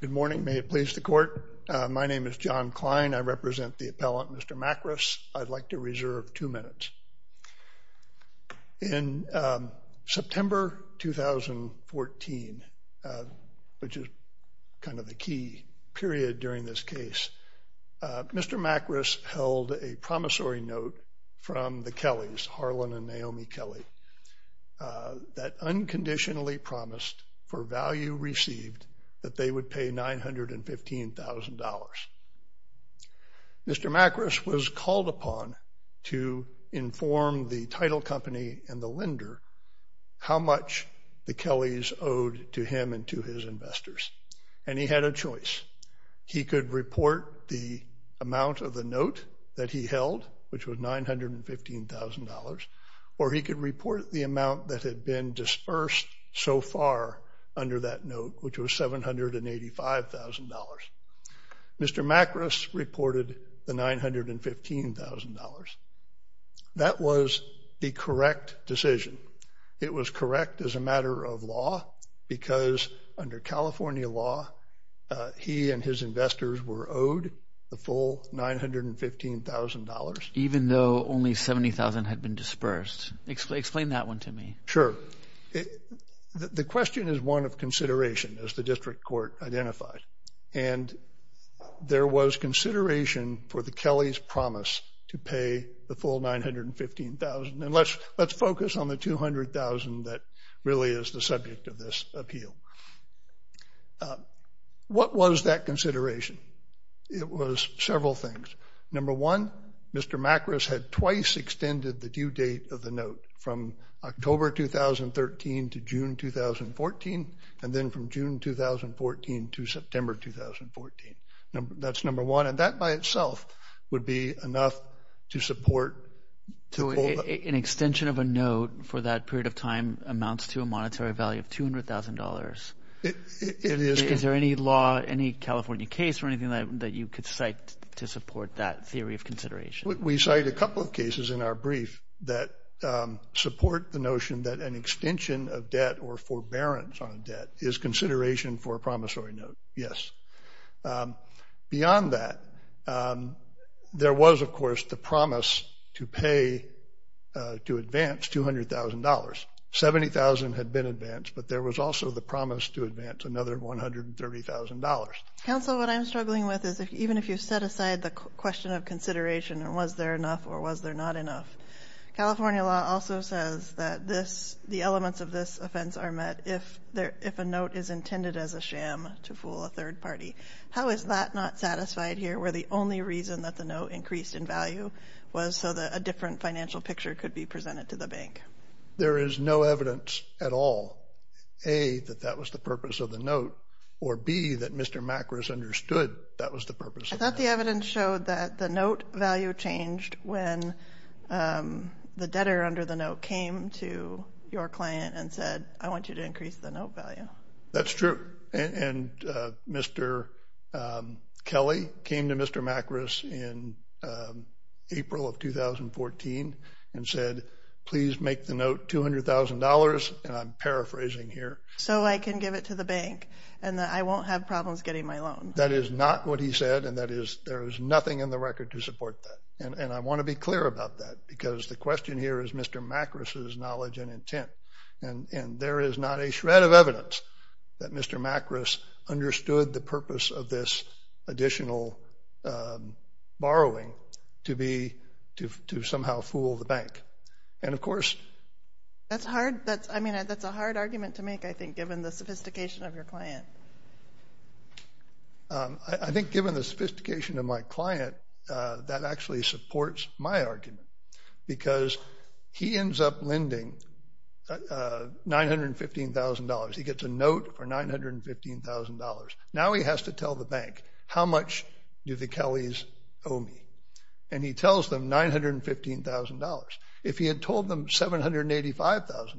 Good morning, may it please the court. My name is John Klein. I represent the appellant Mr. Makras. I'd like to reserve two minutes. In September 2014, which is kind of the key period during this case, Mr. Makras held a promissory note from the Kellys, Harlan and Naomi Kelly, that unconditionally promised for value received that they would pay $915,000. Mr. Makras was called upon to inform the title company and the lender how much the Kellys owed to him and to his investors, and he had a choice. He could report the amount of the note that he held, which was $915,000, or he could report the amount that had been disbursed so far under that note, which was $785,000. Mr. Makras reported the $915,000. That was the correct decision. It was correct as a matter of law, because under California law, he and his investors were owed the full $915,000. Even though only $70,000 had been disbursed. Explain that one to me. Sure. The question is one of consideration, as the district court identified, and there was consideration for the Kellys' promise to pay the full $915,000, and let's focus on the $200,000 that really is the subject of this appeal. What was that consideration? It was several things. Number one, Mr. Makras had October 2013 to June 2014, and then from June 2014 to September 2014. That's number one, and that by itself would be enough to support. An extension of a note for that period of time amounts to a monetary value of $200,000. Is there any law, any California case or anything that you could cite to support that theory of the notion that an extension of debt or forbearance on a debt is consideration for a promissory note? Yes. Beyond that, there was, of course, the promise to pay to advance $200,000. $70,000 had been advanced, but there was also the promise to advance another $130,000. Council, what I'm struggling with is even if you set aside the question of consideration, or was there enough or was there not enough, California law also says that this, the elements of this offense are met if a note is intended as a sham to fool a third party. How is that not satisfied here, where the only reason that the note increased in value was so that a different financial picture could be presented to the bank? There is no evidence at all, A, that that was the purpose of the note, or B, that Mr. Makras understood that was the purpose. I thought the evidence showed that the debtor under the note came to your client and said, I want you to increase the note value. That's true, and Mr. Kelly came to Mr. Makras in April of 2014 and said, please make the note $200,000, and I'm paraphrasing here. So I can give it to the bank, and I won't have problems getting my loan. That is not what he said, and that is, there is nothing in the record to support that, and I want to be clear about that, because the question here is Mr. Makras' knowledge and intent, and there is not a shred of evidence that Mr. Makras understood the purpose of this additional borrowing to be, to somehow fool the bank. And of course... That's hard, that's, I mean, that's a hard argument to make, I think, given the sophistication of your client. I think given the sophistication of my client, that actually supports my argument, because he ends up lending $915,000. He gets a note for $915,000. Now he has to tell the bank, how much do the Kellys owe me? And he tells them $915,000. If he had told them $785,000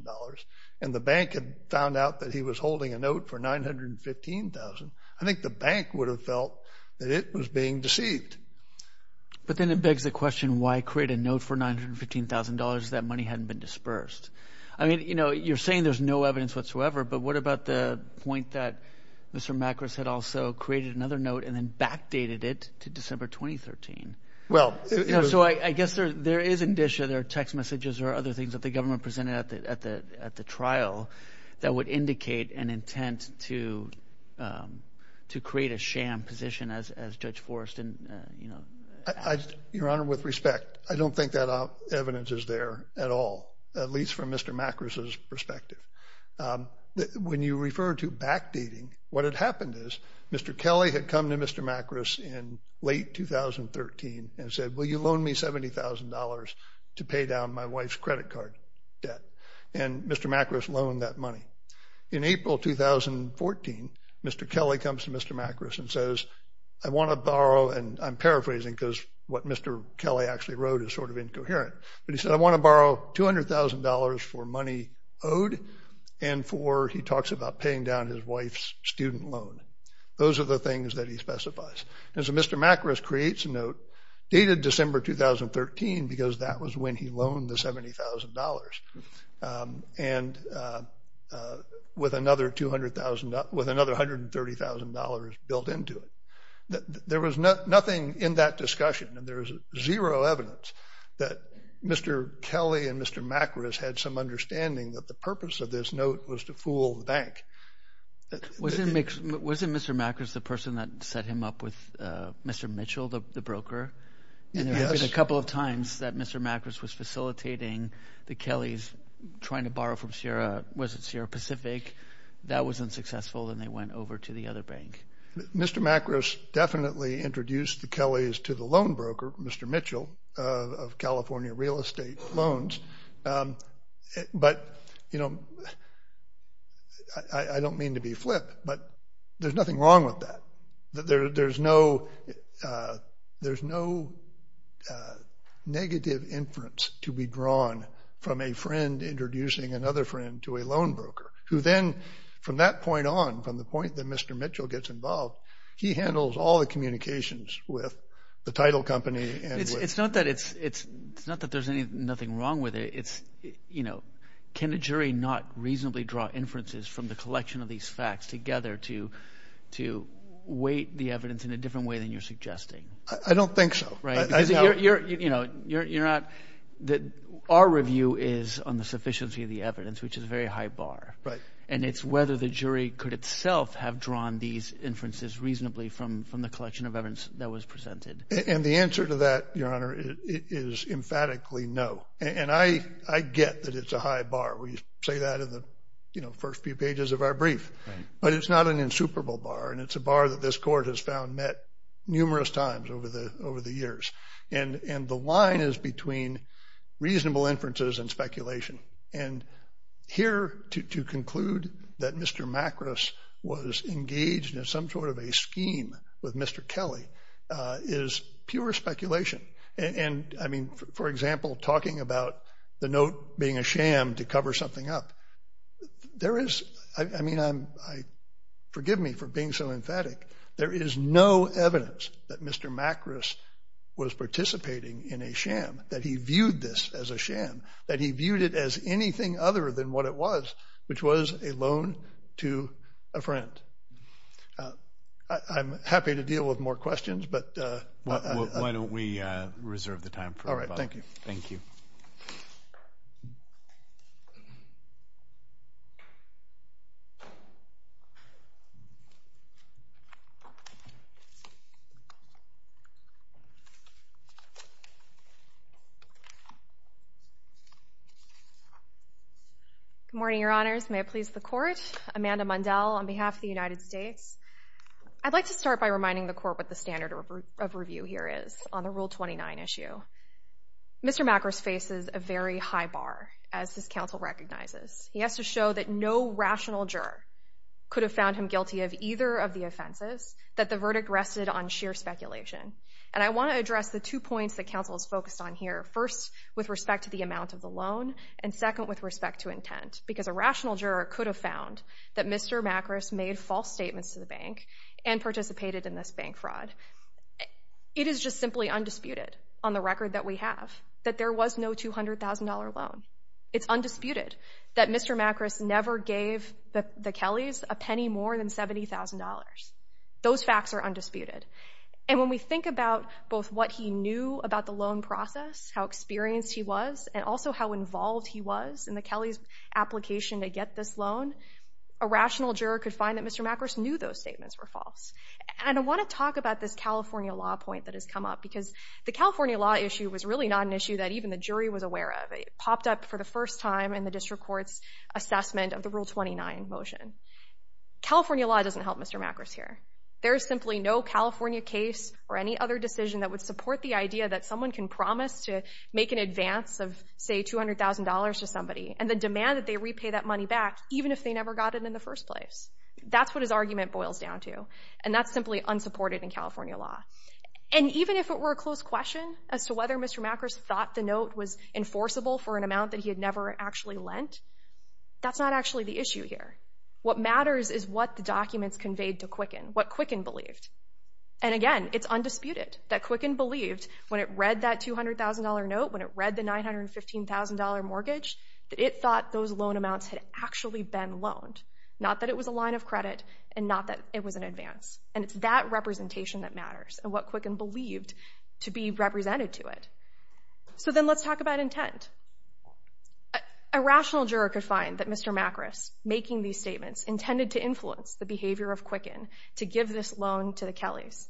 and the bank had found out that he was holding a note for $915,000, I think the bank would have felt that it was being deceived. But then it begs the question, why create a note for $915,000 if that money hadn't been dispersed? I mean, you know, you're saying there's no evidence whatsoever, but what about the point that Mr. Makras had also created another note and then backdated it to December 2013? So I guess there is indicia, there are text messages, there are other things that the government presented at the trial that would position as Judge Forreston, you know. Your Honor, with respect, I don't think that evidence is there at all, at least from Mr. Makras' perspective. When you refer to backdating, what had happened is, Mr. Kelly had come to Mr. Makras in late 2013 and said, will you loan me $70,000 to pay down my wife's credit card debt? And Mr. Makras loaned that money. In April 2014, Mr. Kelly comes to Mr. Makras and says, I want to borrow, and I'm paraphrasing because what Mr. Kelly actually wrote is sort of incoherent, but he said, I want to borrow $200,000 for money owed and for, he talks about paying down his wife's student loan. Those are the things that he specifies. And so Mr. Makras creates a note dated December 2013 because that was when he loaned the $70,000 and with another $130,000 built into it. There was nothing in that discussion, and there is zero evidence that Mr. Kelly and Mr. Makras had some understanding that the purpose of this note was to fool the bank. Wasn't Mr. Makras the person that set him up with Mr. Mitchell, the broker? Yes. And there was a couple of times that Mr. Makras was facilitating the Kellys trying to borrow from Sierra, was it Sierra Pacific? That was unsuccessful, and they went over to the other bank. Mr. Makras definitely introduced the Kellys to the loan broker, Mr. Mitchell, of California Real Estate Loans. But, you know, I don't mean to be flip, but there's nothing wrong with that. There's no negative inference to be drawn from a friend introducing another friend to a loan broker, who then from that point on, from the point that Mr. Mitchell gets involved, he handles all the communications with the title company. It's not that there's nothing wrong with it. It's, you know, can a jury not reasonably draw inferences from the collection of these facts together to weight the evidence in a different way than you're suggesting? I don't think so. Right. Because, you know, our review is on the sufficiency of the evidence, which is a very high bar. Right. And it's whether the jury could itself have drawn these inferences reasonably from the collection of evidence that was presented. And the answer to that, Your Honor, is emphatically no. And I get that it's a high bar. We say that in the, you know, first few pages of our brief. Right. But it's not an insuperable bar. And it's a bar that this Court has found met numerous times over the years. And the line is between reasonable inferences and speculation. And here, to conclude that Mr. Macros was engaged in some sort of a scheme with Mr. Kelly is pure speculation. And, I mean, for example, talking about the note being a sham to cover something up. There is – I mean, forgive me for being so emphatic. There is no evidence that Mr. Macros was participating in a sham, that he viewed this as a sham, that he viewed it as anything other than what it was, which was a loan to a friend. I'm happy to deal with more questions, but – Why don't we reserve the time for – All right. Thank you. Thank you. Thank you. Good morning, Your Honors. May it please the Court. Amanda Mundell on behalf of the United States. I'd like to start by reminding the Court what the standard of review here is on the Rule 29 issue. Mr. Macros faces a very high bar, as this counsel recognizes. He has to show that no rational juror could have found him guilty of either of the offenses, that the verdict rested on sheer speculation. And I want to address the two points that counsel is focused on here, first, with respect to the amount of the loan, and second, with respect to intent. Because a rational juror could have found that Mr. Macros made false statements to the bank and participated in this bank fraud. It is just simply undisputed on the record that we have that there was no $200,000 loan. It's undisputed that Mr. Macros never gave the Kellys a penny more than $70,000. Those facts are undisputed. And when we think about both what he knew about the loan process, how experienced he was, and also how involved he was in the Kellys' application to get this loan, a rational juror could find that Mr. Macros knew those statements were false. And I want to talk about this California law point that has come up, because the California law issue was really not an issue that even the jury was aware of. It popped up for the first time in the district court's assessment of the Rule 29 motion. California law doesn't help Mr. Macros here. There is simply no California case or any other decision that would support the idea that someone can promise to make an advance of, say, $200,000 to somebody and then demand that they repay that money back, even if they never got it in the first place. That's what his argument boils down to, and that's simply unsupported in California law. And even if it were a close question as to whether Mr. Macros thought the note was enforceable for an amount that he had never actually lent, that's not actually the issue here. What matters is what the documents conveyed to Quicken, what Quicken believed. And again, it's undisputed that Quicken believed when it read that $200,000 note, when it read the $915,000 mortgage, that it thought those loan amounts had actually been loaned, not that it was a line of credit and not that it was an advance. And it's that representation that matters and what Quicken believed to be represented to it. So then let's talk about intent. A rational juror could find that Mr. Macros, making these statements, intended to influence the behavior of Quicken to give this loan to the Kellys.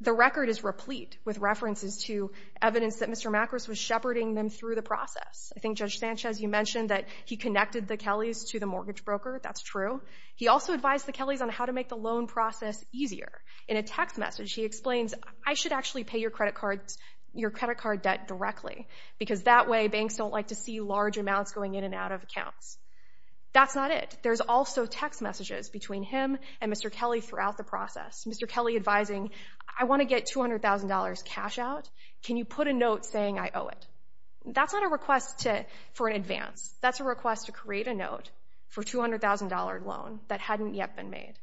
The record is replete with references to evidence that Mr. Macros was shepherding them through the process. I think, Judge Sanchez, you mentioned that he connected the Kellys to the mortgage broker. That's true. He also advised the Kellys on how to make the loan process easier. In a text message, he explains, I should actually pay your credit card debt directly because that way banks don't like to see large amounts going in and out of accounts. That's not it. There's also text messages between him and Mr. Kelly throughout the process. Mr. Kelly advising, I want to get $200,000 cash out. Can you put a note saying I owe it? That's not a request for an advance. That's a request to create a note for a $200,000 loan that hadn't yet been made.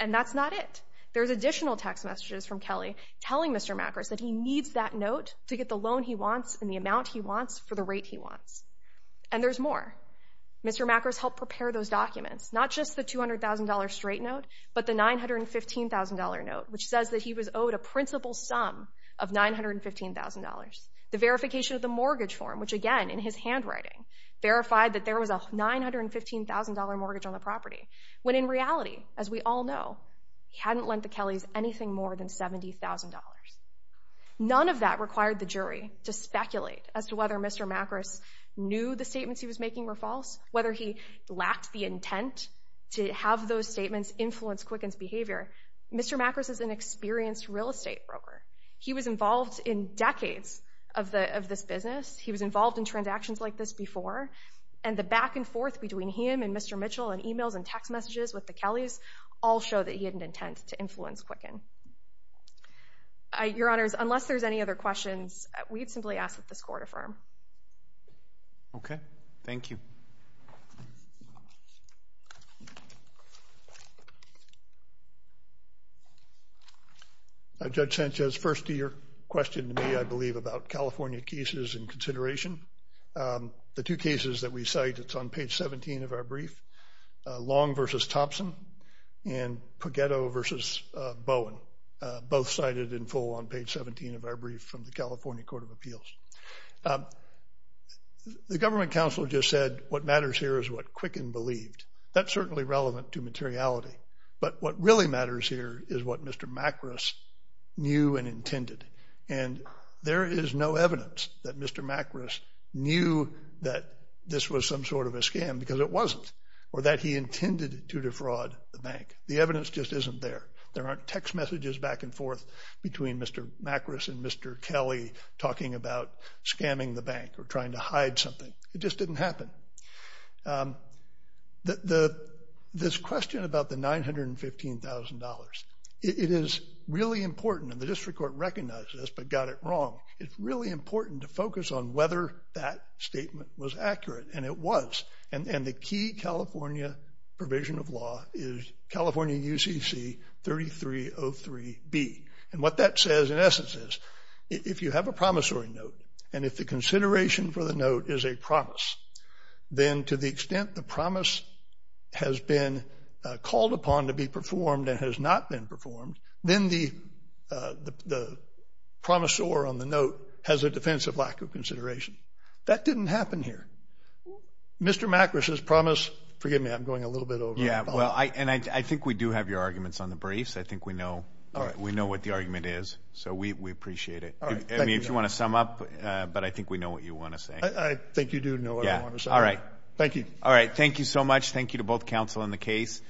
And that's not it. There's additional text messages from Kelly telling Mr. Macros that he needs that note to get the loan he wants and the amount he wants for the rate he wants. And there's more. Mr. Macros helped prepare those documents, not just the $200,000 straight note, but the $915,000 note, which says that he was owed a principal sum of $915,000. The verification of the mortgage form, which again, in his handwriting, verified that there was a $915,000 mortgage on the property, when in reality, as we all know, he hadn't lent the Kellys anything more than $70,000. None of that required the jury to speculate as to whether Mr. Macros knew the statements he was making were false, whether he lacked the intent to have those statements influence Quicken's behavior. Mr. Macros is an experienced real estate broker. He was involved in decades of this business. He was involved in transactions like this before. And the back and forth between him and Mr. Mitchell and emails and text messages with the Kellys all show that he had an intent to influence Quicken. Your Honors, unless there's any other questions, we'd simply ask that this Court affirm. Okay. Thank you. Thank you. Judge Sanchez, first to your question to me, I believe, about California cases in consideration. The two cases that we cite, it's on page 17 of our brief, Long v. Thompson and Pageto v. Bowen, both cited in full on page 17 of our brief from the California Court of Appeals. The government counsel just said what matters here is what Quicken believed. That's certainly relevant to materiality. But what really matters here is what Mr. Macros knew and intended. And there is no evidence that Mr. Macros knew that this was some sort of a scam because it wasn't or that he intended to defraud the bank. The evidence just isn't there. There aren't text messages back and forth between Mr. Macros and Mr. Kelly talking about scamming the bank or trying to hide something. It just didn't happen. This question about the $915,000, it is really important, and the district court recognized this but got it wrong. It's really important to focus on whether that statement was accurate, and it was. And the key California provision of law is California UCC 3303B. And what that says in essence is if you have a promissory note and if the consideration for the note is a promise, then to the extent the promise has been called upon to be performed and has not been performed, then the promissor on the note has a defensive lack of consideration. That didn't happen here. Mr. Macros' promise, forgive me, I'm going a little bit over. Yeah, well, and I think we do have your arguments on the briefs. I think we know what the argument is, so we appreciate it. I mean, if you want to sum up, but I think we know what you want to say. I think you do know what I want to say. All right. Thank you. All right, thank you so much. Thank you to both counsel and the case.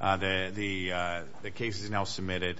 The case is now submitted.